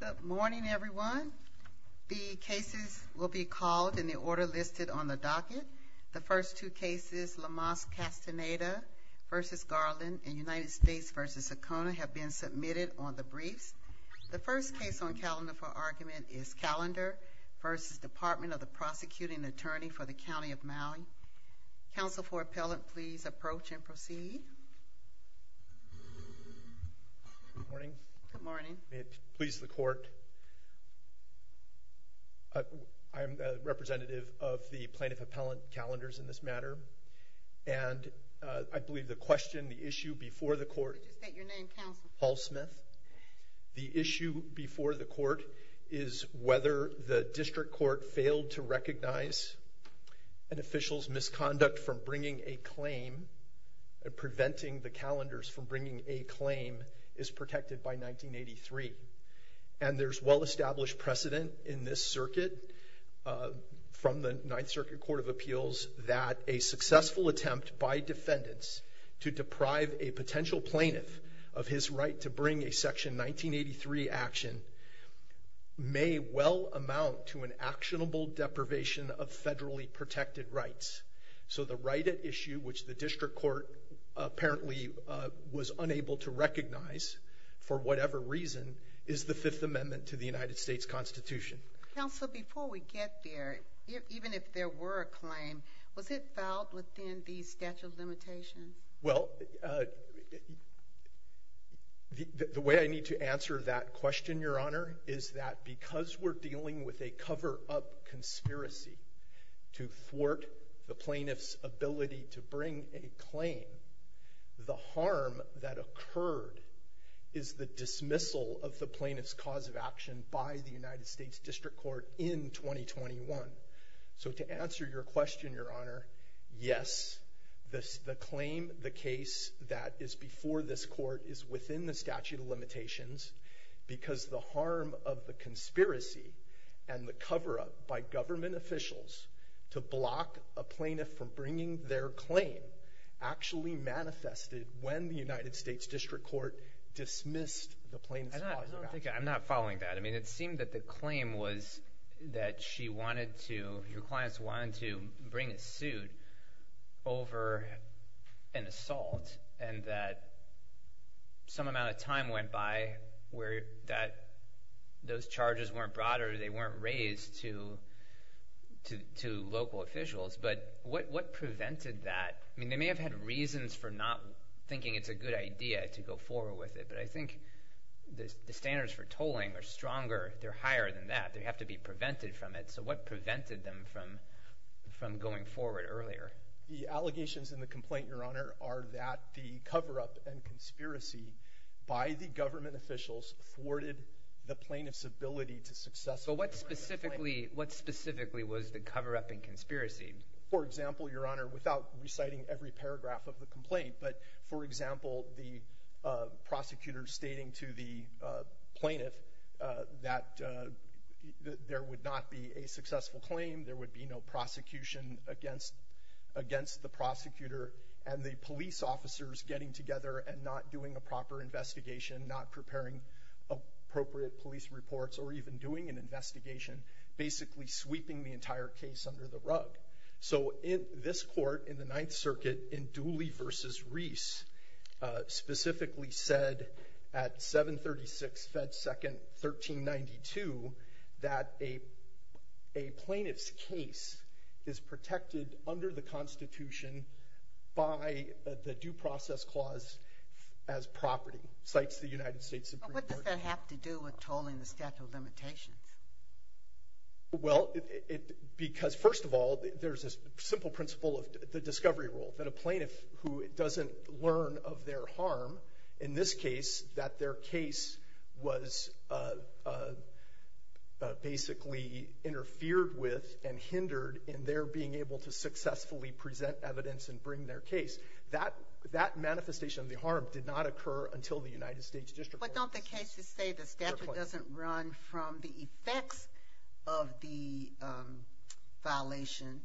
Good morning everyone. The cases will be called in the order listed on the docket. The first two cases, Lamas Castaneda v. Garland and United States v. Sakona have been submitted on the briefs. The first case on calendar for argument is Callender v. Dept of the Prosecuting Attorney. Good morning. Good morning. May it please the court. I am a representative of the plaintiff appellant calendars in this matter and I believe the question, the issue before the court. Could you state your name counsel? Paul Smith. The issue before the court is whether the district court failed to recognize an official's misconduct from bringing a claim and preventing the calendars from bringing a claim is protected by 1983. And there's well established precedent in this circuit from the Ninth Circuit Court of Appeals that a successful attempt by defendants to deprive a potential plaintiff of his right to bring a section 1983 action may well amount to an actionable deprivation of federally protected rights. So the right at issue, which the district court apparently was unable to recognize for whatever reason, is the Fifth Amendment to the United States Constitution. Counsel, before we get there, even if there were a claim, was it filed within the statute of limitations? Well, the way I need to answer that question, Your Honor, is that because we're dealing with a cover up conspiracy to thwart the plaintiff's ability to bring a claim, the harm that occurred is the dismissal of the plaintiff's cause of action by the United States District Court in 2021. So to answer your question, Your Honor, yes, this, the claim, the case that is before this court is within the statute of limitations because the harm of the conspiracy and the cover up by government officials to block a plaintiff from bringing their claim actually manifested when the United States District Court dismissed the plaintiff's cause of action. I'm not following that. I mean, it seemed that the claim was that she wanted to, your clients wanted to bring a suit over an assault and that some amount of time went by where that those charges weren't brought or they weren't raised to local officials. But what prevented that? I mean, they may have had reasons for not thinking it's a good idea to go forward with it, but I think the standards for tolling are stronger. They're higher than that. They have to be prevented from it. So what prevented them from going forward earlier? The allegations in the complaint, Your Honor, are that the by the government officials thwarted the plaintiff's ability to successfully. But what specifically, what specifically was the cover up and conspiracy? For example, Your Honor, without reciting every paragraph of the complaint, but for example, the prosecutor stating to the plaintiff that there would not be a successful claim, there would be no prosecution against against the prosecutor and the police officers getting together and not doing a proper investigation, not preparing appropriate police reports or even doing an investigation, basically sweeping the entire case under the rug. So in this court in the Ninth Circuit in Dooley versus Reese specifically said at 736 Fed Second 1392 that a plaintiff's case is protected under the Constitution by the Due Process Clause as property, cites the United States Supreme Court. But what does that have to do with tolling the statute of limitations? Well, because first of all, there's this simple principle of the discovery rule that a plaintiff who doesn't learn of their harm, in this case, that their case was basically interfered with and hindered in their being able to successfully present evidence and bring their case, that manifestation of the harm did not occur until the United States District Court. But don't the cases say the statute doesn't run from the effects of the violation,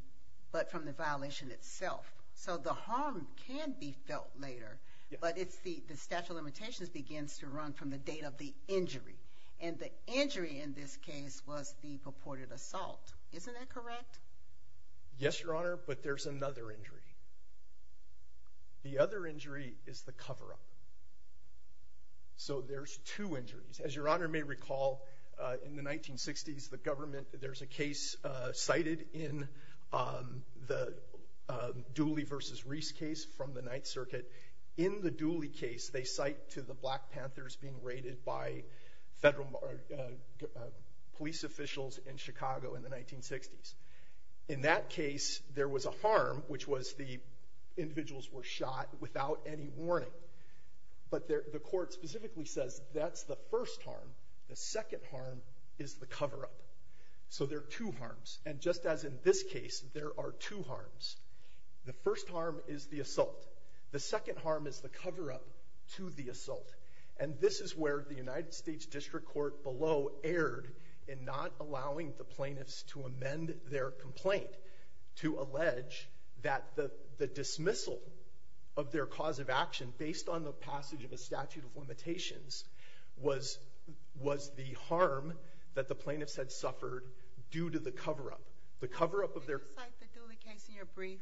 but from the violation itself? So the harm can be felt later, but it's the statute of limitations begins to run from the date of the injury. And the injury in this case was the purported assault. Isn't that correct? Yes, Your Honor, but there's another injury. The other injury is the cover-up. So there's two injuries. As Your Honor may recall, in the 1960s, the government, there's a case cited in the Dooley versus Reese case from the Ninth Circuit. In the Dooley case, they cite to the Black Panthers being raided by federal police officials in Chicago in the 1960s. In that case, there was a harm, which was the individuals were shot without any warning. But the court specifically says that's the first harm. The second harm is the cover-up. So there are two harms. And just as in this case, there are two harms. The first harm is the assault. The second harm is the cover-up to the assault. And this is where the United States District Court below erred in not allowing the plaintiffs to amend their complaint to allege that the dismissal of their cause of action, based on the passage of a statute of limitations, was the harm that the plaintiffs had suffered due to the cover-up. Did you cite the Dooley case in your brief?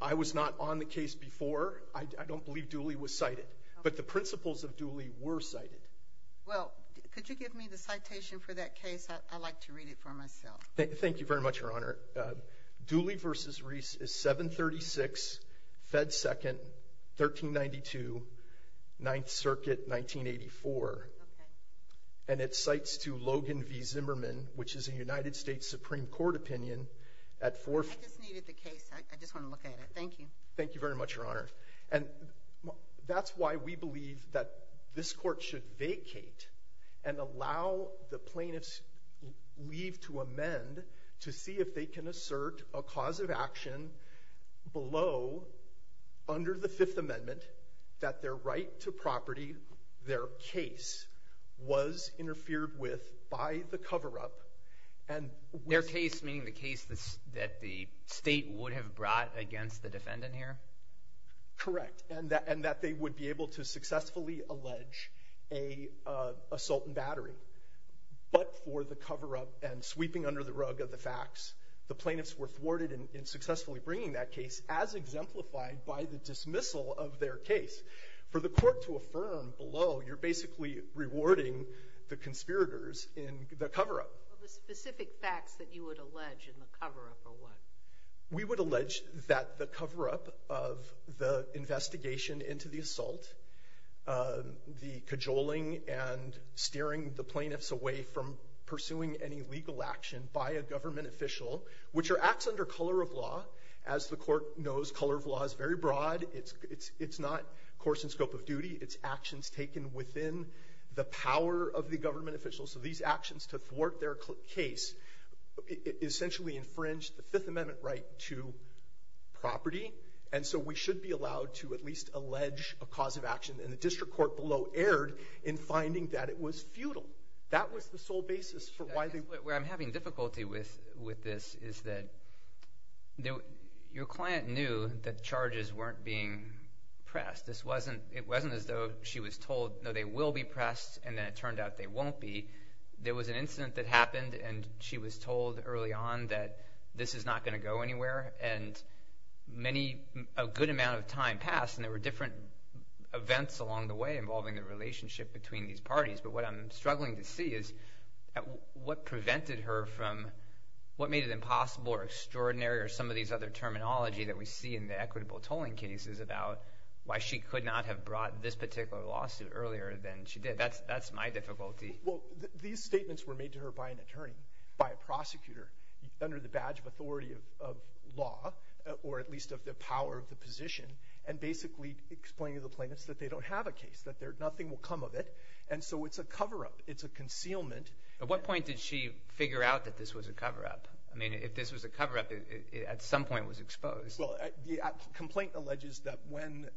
I was not on the case before. I don't believe Dooley was cited. But the principles of Dooley were cited. Well, could you give me the citation for that case? I'd like to read it for myself. Thank you very much, Your Honor. Dooley v. Reese is 736, Fed 2nd, 1392, 9th Circuit, 1984. And it cites to Logan v. Zimmerman, which is a United States Supreme Court opinion, at 4- I just needed the case. I just want to look at it. Thank you. Thank you very much, Your Honor. And that's why we believe that this court should vacate and allow the plaintiffs' leave to amend to see if they can assert a cause of action below, under the Fifth Amendment, that their right to property, their case, was interfered with by the cover-up and- Their case, meaning the case that the state would have brought against the defendant here? Correct. And that they would be able to assault and battery. But for the cover-up and sweeping under the rug of the facts, the plaintiffs were thwarted in successfully bringing that case as exemplified by the dismissal of their case. For the court to affirm below, you're basically rewarding the conspirators in the cover-up. Well, the specific facts that you would allege in the cover-up are what? We would allege that the cover-up of the investigation into the assault, the cajoling and steering the plaintiffs away from pursuing any legal action by a government official, which are acts under color of law. As the court knows, color of law is very broad. It's not course and scope of duty. It's actions taken within the power of the government officials. So these actions to thwart their case essentially infringed the Fifth Amendment right to property. And so we should be allowed to at least allege a cause of action. And the district court below erred in finding that it was futile. That was the sole basis for why they- Where I'm having difficulty with this is that your client knew that charges weren't being pressed. It wasn't as though she was told, no, they will be pressed, and then it turned out they won't be. There was an incident that was told early on that this is not going to go anywhere. And many, a good amount of time passed, and there were different events along the way involving the relationship between these parties. But what I'm struggling to see is what prevented her from, what made it impossible or extraordinary or some of these other terminology that we see in the equitable tolling cases about why she could not have brought this particular lawsuit earlier than she did. That's my difficulty. Well, these statements were made to her by an attorney, by a prosecutor, under the badge of authority of law, or at least of the power of the position, and basically explaining to the plaintiffs that they don't have a case, that nothing will come of it. And so it's a cover-up. It's a concealment. At what point did she figure out that this was a cover-up? I mean, if this was a cover-up, it at some point was exposed. Well, the complaint alleges that when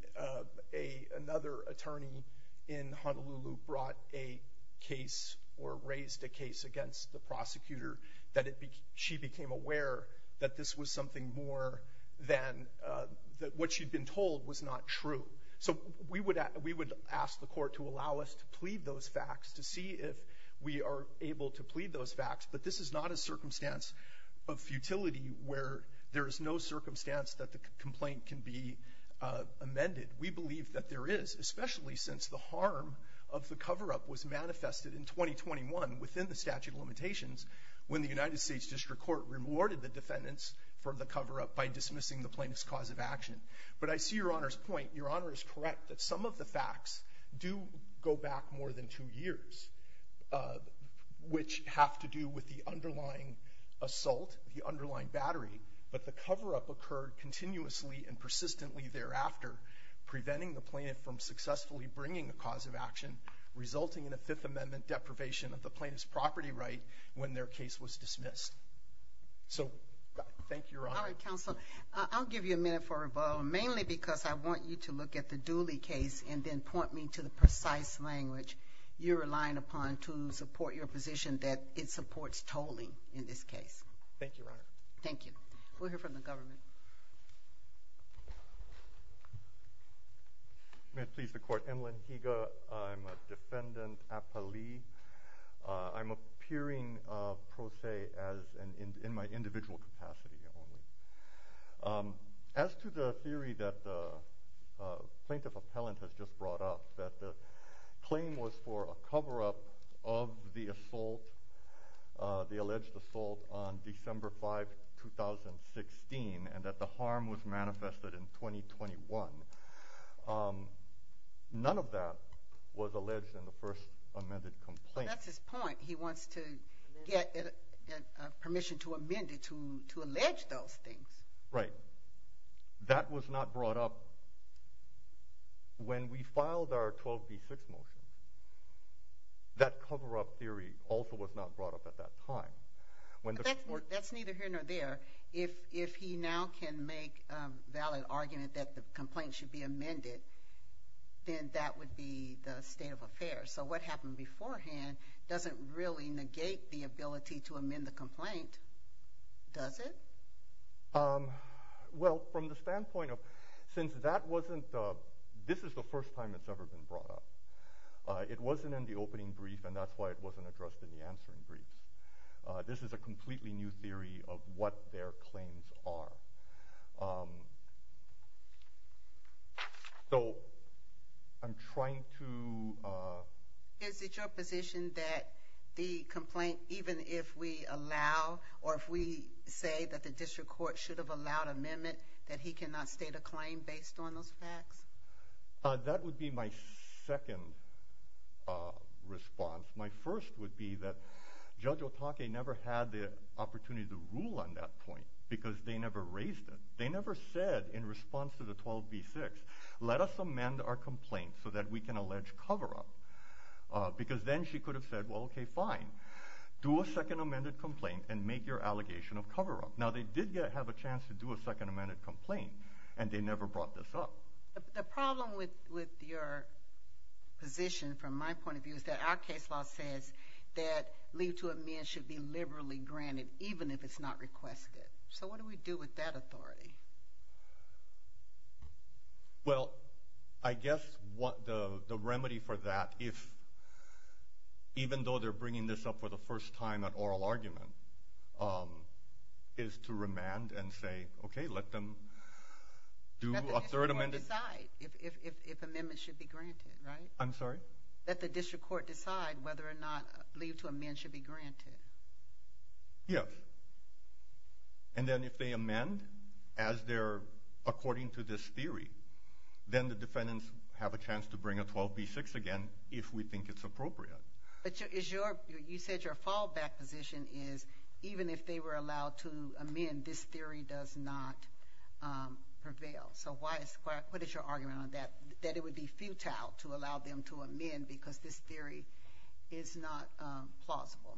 another attorney in Honolulu brought a case or raised a case against the prosecutor, that she became aware that this was something more than, that what she'd been told was not true. So we would ask the court to allow us to plead those facts, to see if we are able to plead those facts. But this is not a circumstance of futility where there is no circumstance that the complaint can be amended. We believe that there is, especially since the harm of the cover-up was manifested in 2021 within the statute of limitations when the United States District Court rewarded the defendants for the cover-up by dismissing the plaintiff's cause of action. But I see Your Honor's point. Your Honor is correct that some of the facts do go back more than two years, which have to do with the underlying assault, the underlying battery. But the cover-up occurred continuously and persistently thereafter, preventing the plaintiff from successfully bringing a cause of action, resulting in a Fifth Amendment deprivation of the plaintiff's property right when their case was dismissed. So, thank you, Your Honor. All right, counsel. I'll give you a minute for rebuttal, mainly because I want you to look at the Dooley case and then point me to the precise language you're relying upon to support your position that it supports tolling in this case. Thank you, Your Honor. Thank you. We'll hear from the government. May it please the Court. Emlyn Higa. I'm a defendant appellee. I'm appearing pro se in my individual capacity only. As to the theory that the plaintiff appellant has just brought up, that the claim was for a cover-up of the assault, the alleged assault on December 5, 2016, and that the harm was manifested in 2021. None of that was alleged in the first amended complaint. Well, that's his point. He wants to get permission to amend it, to allege those things. Right. That was not brought up when we filed our 12B6 motion. That cover-up theory also was not brought up at that time. That's neither here nor there. If he now can make a valid argument that the complaint should be amended, then that would be the state of affairs. So, what happened beforehand doesn't really negate the ability to amend the complaint, does it? Well, from the standpoint of, since that wasn't, this is the first time it's ever been brought up. It wasn't in the opening brief, and that's why it wasn't addressed in the answering briefs. This is a completely new theory of what their claims are. So, I'm trying to... Is it your position that the complaint, even if we allow, or if we say that the district court should have allowed amendment, that he cannot state a claim based on those facts? That would be my second response. My first would be that Judge Otake never had the opportunity to rule on that point, because they never raised it. They never said, in response to the 12B6, let us amend our complaint so that we can allege cover-up, because then she could have said, fine, do a second amended complaint and make your allegation of cover-up. Now, they did have a chance to do a second amended complaint, and they never brought this up. The problem with your position, from my point of view, is that our case law says that leave to amend should be liberally granted, even if it's not requested. So, what do we do with that authority? Well, I guess the remedy for that, even though they're bringing this up for the first time at oral argument, is to remand and say, okay, let them do a third amended... Let the district court decide if amendment should be granted, right? I'm sorry? Let the district court decide whether or not leave to amend should be granted. Yes. And then if they amend as they're, according to this theory, then the defendants have a chance to bring a 12B6 again, if we think it's appropriate. But you said your fallback position is, even if they were allowed to amend, this theory does not prevail. So, what is your argument on that? That it would be futile to allow them to amend, because this theory is not plausible.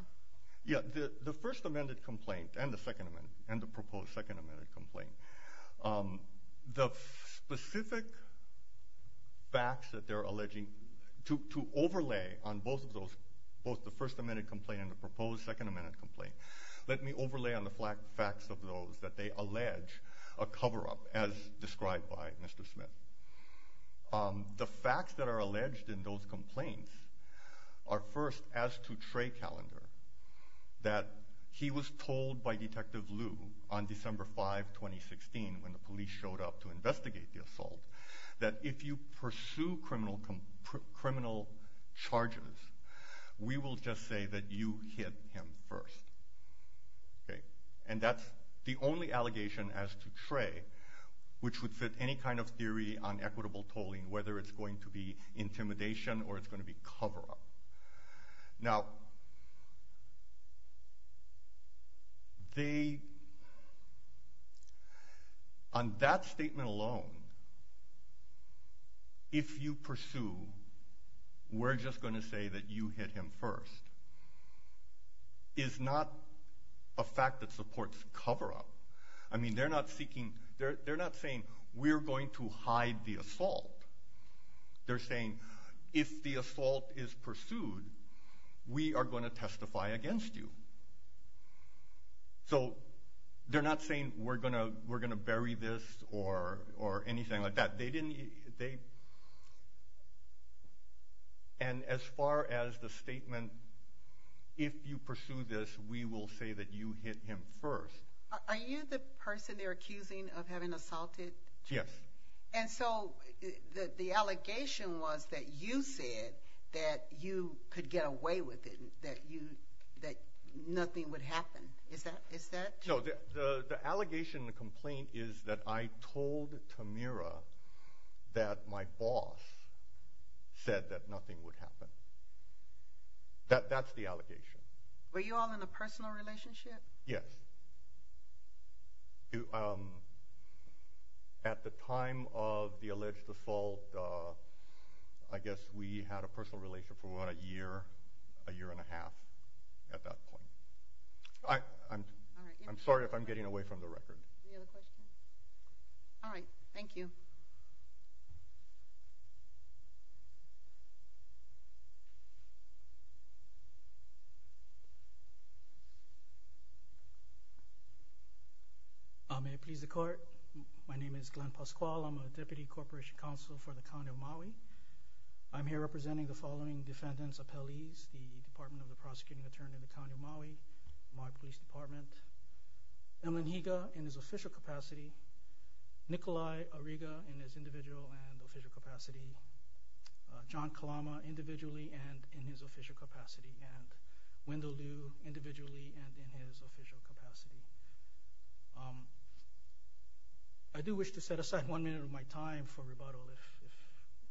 Yeah. The first amended complaint, and the proposed second amended complaint, the specific facts that they're alleging, to overlay on both of those, both the first amended complaint and the proposed second amended complaint, let me overlay on the facts of those that they allege a cover-up, as described by Mr. Smith. The facts that are alleged in those complaints are first, as to Trey Callender, that he was told by Detective Liu on December 5, 2016, when the police showed up to investigate the assault, that if you pursue criminal charges, we will just say that you hit him first. Okay? And that's the only allegation as to Trey, which would fit any kind of theory on equitable tolling, whether it's going to be cover-up. Now, on that statement alone, if you pursue, we're just going to say that you hit him first, is not a fact that supports cover-up. I mean, they're not seeking, they're not saying, we're going to hide the assault. They're saying, if the assault is pursued, we are going to testify against you. So they're not saying, we're going to bury this, or anything like that. And as far as the statement, if you pursue this, we will say that you hit him first. Are you the person they're accusing of having assaulted? Yes. And so the allegation was that you said that you could get away with it, that nothing would happen. Is that true? No, the allegation in the complaint is that I told Tamira that my boss said that nothing would happen. That's the allegation. Were you all in a personal relationship? Yes. At the time of the alleged assault, I guess we had a personal relationship for about a year, a year and a half at that point. I'm sorry if I'm getting away from the record. Any other questions? All right. Thank you. May it please the court. My name is Glenn Pasquale. I'm a Deputy Corporation Counsel for the County of Maui. I'm here representing the following defendants, appellees, the Department of the Prosecuting Attorney of the County of Maui, Maui Police Department, Ellen Higa in his official capacity, Nikolai Arriga in his individual and official capacity, John Kalama individually and in his official capacity, and Wendell Liu individually and in his official capacity. I do wish to set aside one minute of my time for rebuttal, if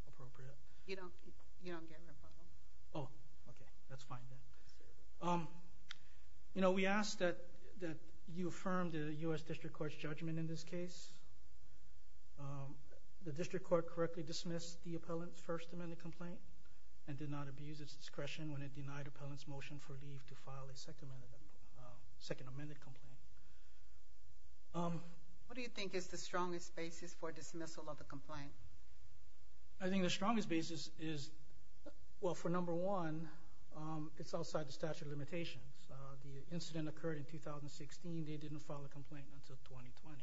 appropriate. You don't get rebuttal. Oh, okay. That's fine. We ask that you affirm the U.S. District Court's judgment in this case. The District Court correctly dismissed the appellant's First Amendment complaint and did not abuse its discretion when it denied appellant's motion for leave to file a Second Amendment complaint. What do you think is the strongest basis for dismissal of the complaint? I think the strongest basis is, well, for number one, it's outside the statute of limitations. The incident occurred in 2016. They didn't file a complaint until 2020,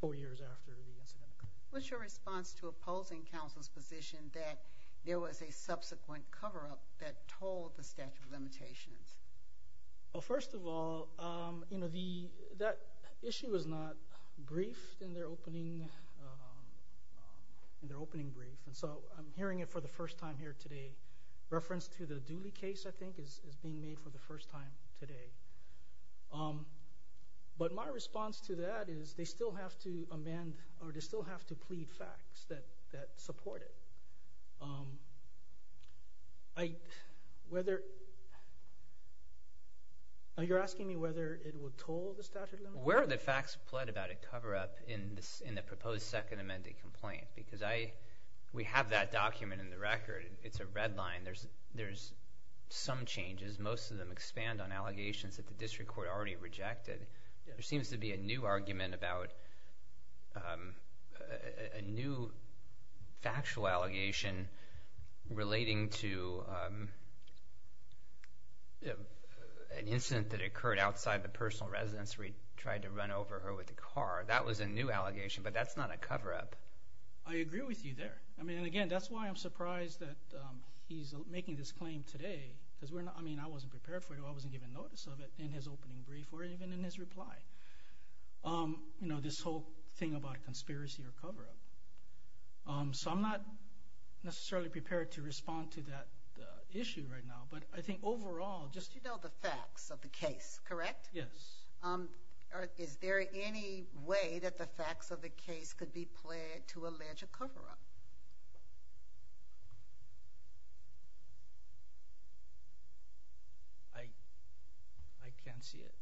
four years after the incident. What's your response to opposing counsel's position that there was a subsequent cover-up that told the statute of limitations? Well, first of all, you know, that issue was not briefed in their opening brief, and so I'm hearing it for the first time here today. Reference to the Dooley case, I think, is being made for the first time today. But my response to that is they still have to amend or they still have to plead facts that support it. You're asking me whether it would toll the statute of limitations? Where are the facts pled about a cover-up in the proposed Second Amendment complaint? Because we have that document in the record. It's a red line. There's some changes. Most of them expand on allegations that the district court already rejected. There seems to be a new argument about a new factual allegation relating to an incident that occurred outside the personal residence where he tried to run over her with a car. That was a new allegation, but that's not a cover-up. I agree with you there. I mean, and again, that's why I'm surprised that he's making this claim today. Because we're not, I mean, I wasn't prepared for it. I wasn't given notice of it in his opening brief or even in his reply. You know, this whole thing about a conspiracy or cover-up. So I'm not necessarily prepared to respond to that issue right now, but I think overall just... You know the facts of the case, correct? Yes. Is there any way that the facts of the case could be pled to allege a cover-up? I can't see it.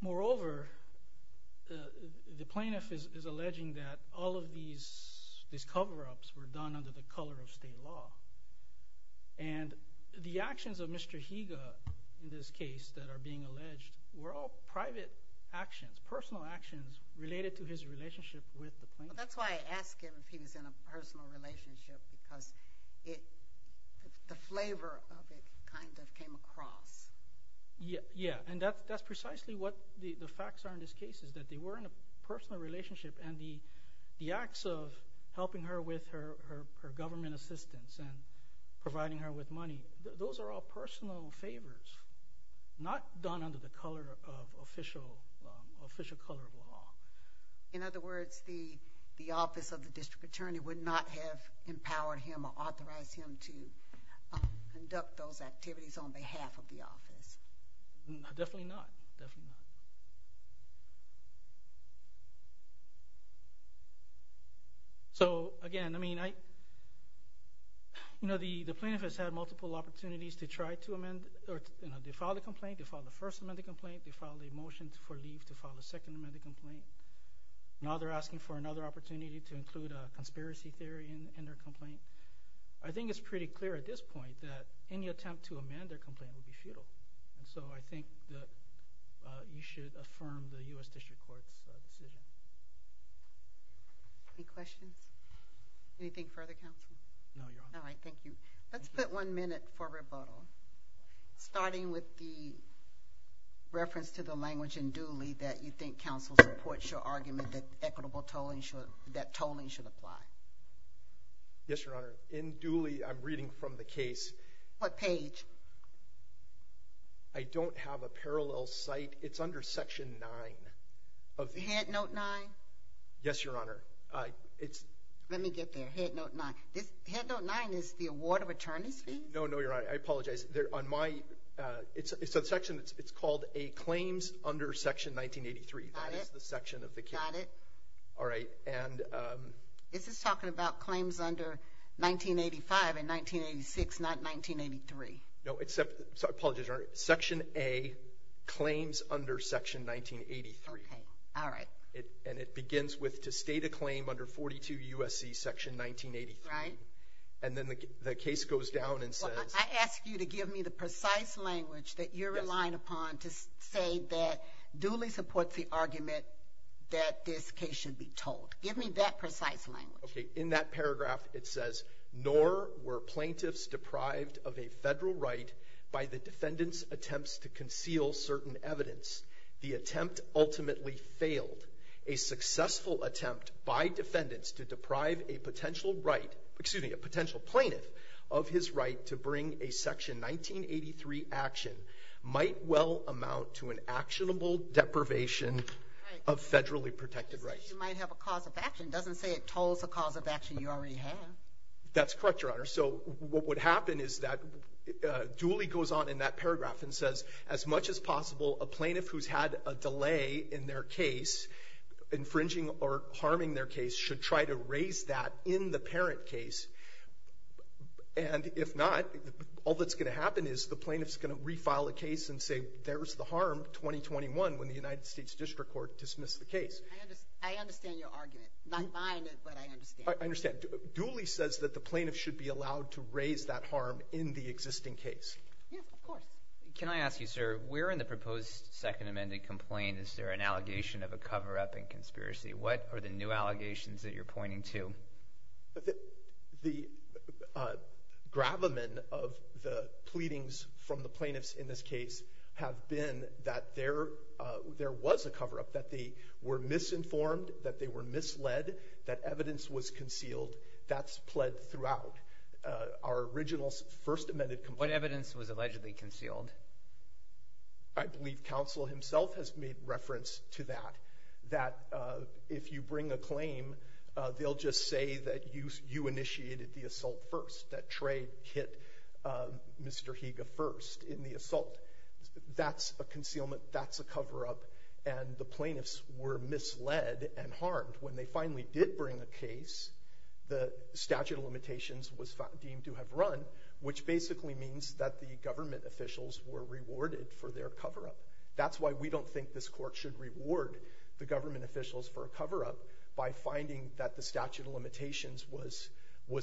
Moreover, the plaintiff is alleging that all of these cover-ups were done under the color of state law. And the actions of Mr. Higa in this case that are being alleged were all private actions, personal actions related to his relationship with the plaintiff. That's why I asked him if he was in a personal relationship, because the flavor of it kind of came across. Yeah, and that's precisely what the facts are that they were in a personal relationship. And the acts of helping her with her government assistance and providing her with money, those are all personal favors, not done under the official color of law. In other words, the office of the district attorney would not have empowered him or authorized him to conduct those activities on behalf of the office? Definitely not. So again, the plaintiff has had multiple opportunities to try to amend. They filed a complaint, they filed a first amendment complaint, they filed a motion for leave to file a second amendment complaint. Now they're asking for another opportunity to include a conspiracy theory in their complaint. I think it's pretty clear at this point that any attempt to amend their complaint would be futile. And so I think that you should affirm the U.S. District Court's decision. Any questions? Anything further, counsel? No, Your Honor. All right, thank you. Let's put one minute for rebuttal. Starting with the reference to the language in Dooley that you think counsel supports your argument that equitable tolling should, that tolling should apply. Yes, Your Honor. In Dooley, I'm reading from the case. What page? I don't have a parallel site. It's under section nine. Headnote nine? Yes, Your Honor. Let me get there. Headnote nine. Headnote nine is the award of attorneys fee? No, no, Your Honor. I apologize. It's a section, it's called a claims under section 1983. Got it. That is the section of the case. Got it. All right, and... Is this talking about claims under 1985 and 1986, not 1983? No, except, so I apologize, Your Honor. Section A claims under section 1983. Okay, all right. And it begins with to state a claim under 42 U.S.C. section 1983. Right. And then the case goes down and says... I ask you to give me the precise language that you're relying upon to say that Dooley supports the argument that this case should be tolled. Give me that precise language. Okay, in that paragraph it says, nor were plaintiffs deprived of a federal right by the defendant's attempts to conceal certain evidence. The attempt ultimately failed. A successful attempt by defendants to deprive a potential right, excuse me, a potential plaintiff of his right to bring a section 1983 action might well amount to an actionable deprivation of federally protected rights. You might have a cause of action. It doesn't say it tolls a cause of action you already have. That's correct, Your Honor. So what would happen is that Dooley goes on in that paragraph and says, as much as possible, a plaintiff who's had a delay in their case, infringing or harming their case, should try to raise that in the parent case. And if not, all that's going to happen is the plaintiff's going to refile the case and say, there's the harm, 2021, when the United States District Court dismissed the case. I understand your argument. Not mine, but I understand. I understand. Dooley says that the plaintiff should be allowed to raise that harm in the existing case. Yes, of course. Can I ask you, sir, we're in the proposed Second Amendment complaint. Is there an allegation of a cover-up and conspiracy? What are the new allegations that you're pointing to? The gravamen of the pleadings from the plaintiffs in this case have been that there was a cover-up, that they were misinformed, that they were misled, that evidence was concealed. That's pled throughout our original First Amendment complaint. What evidence was allegedly concealed? I believe counsel himself has made reference to that, that if you bring a claim, they'll just say that you initiated the assault first, that Trey hit Mr. Higa first. In the assault, that's a concealment, that's a cover-up, and the plaintiffs were misled and harmed. When they finally did bring a case, the statute of limitations was deemed to have run, which basically means that the government officials were rewarded for their cover-up. That's why we don't think this court should reward the government officials for a cover-up by finding that the statute of limitations was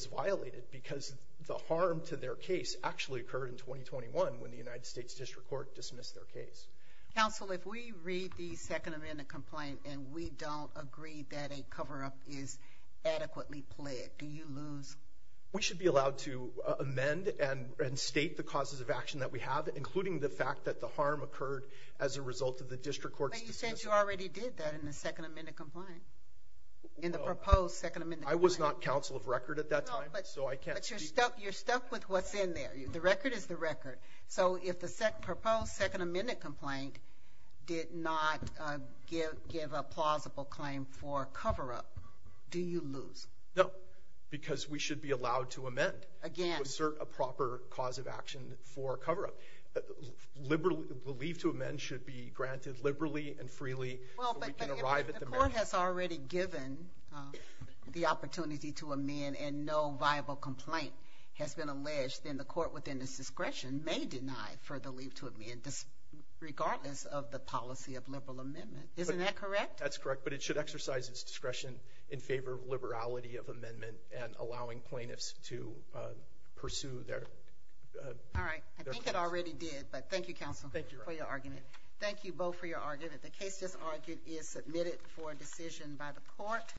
violated, because the harm to their case actually occurred in 2021 when the United States District Court dismissed their case. Counsel, if we read the Second Amendment complaint and we don't agree that a cover-up is adequately pled, do you lose? We should be allowed to amend and state the causes of action that we have, including the fact that the harm occurred as a result of the District Court's decision. You already did that in the Second Amendment complaint, in the proposed Second Amendment. I was not counsel of record at that time, so I can't speak to that. You're stuck with what's in there. The record is the record. So if the proposed Second Amendment complaint did not give a plausible claim for a cover-up, do you lose? No, because we should be allowed to amend to assert a proper cause of action for a cover-up. Liberally, the leave to amend should be granted liberally and freely so we can arrive at the merits. If the court has already given the opportunity to amend and no viable complaint has been alleged, then the court within its discretion may deny further leave to amend, regardless of the policy of liberal amendment. Isn't that correct? That's correct, but it should exercise its discretion in favor of liberality of amendment and allowing plaintiffs to pursue their case. All right. I think it already did, but thank you, counsel, for your argument. Thank you both for your argument. The case just argued is submitted for a decision by the court.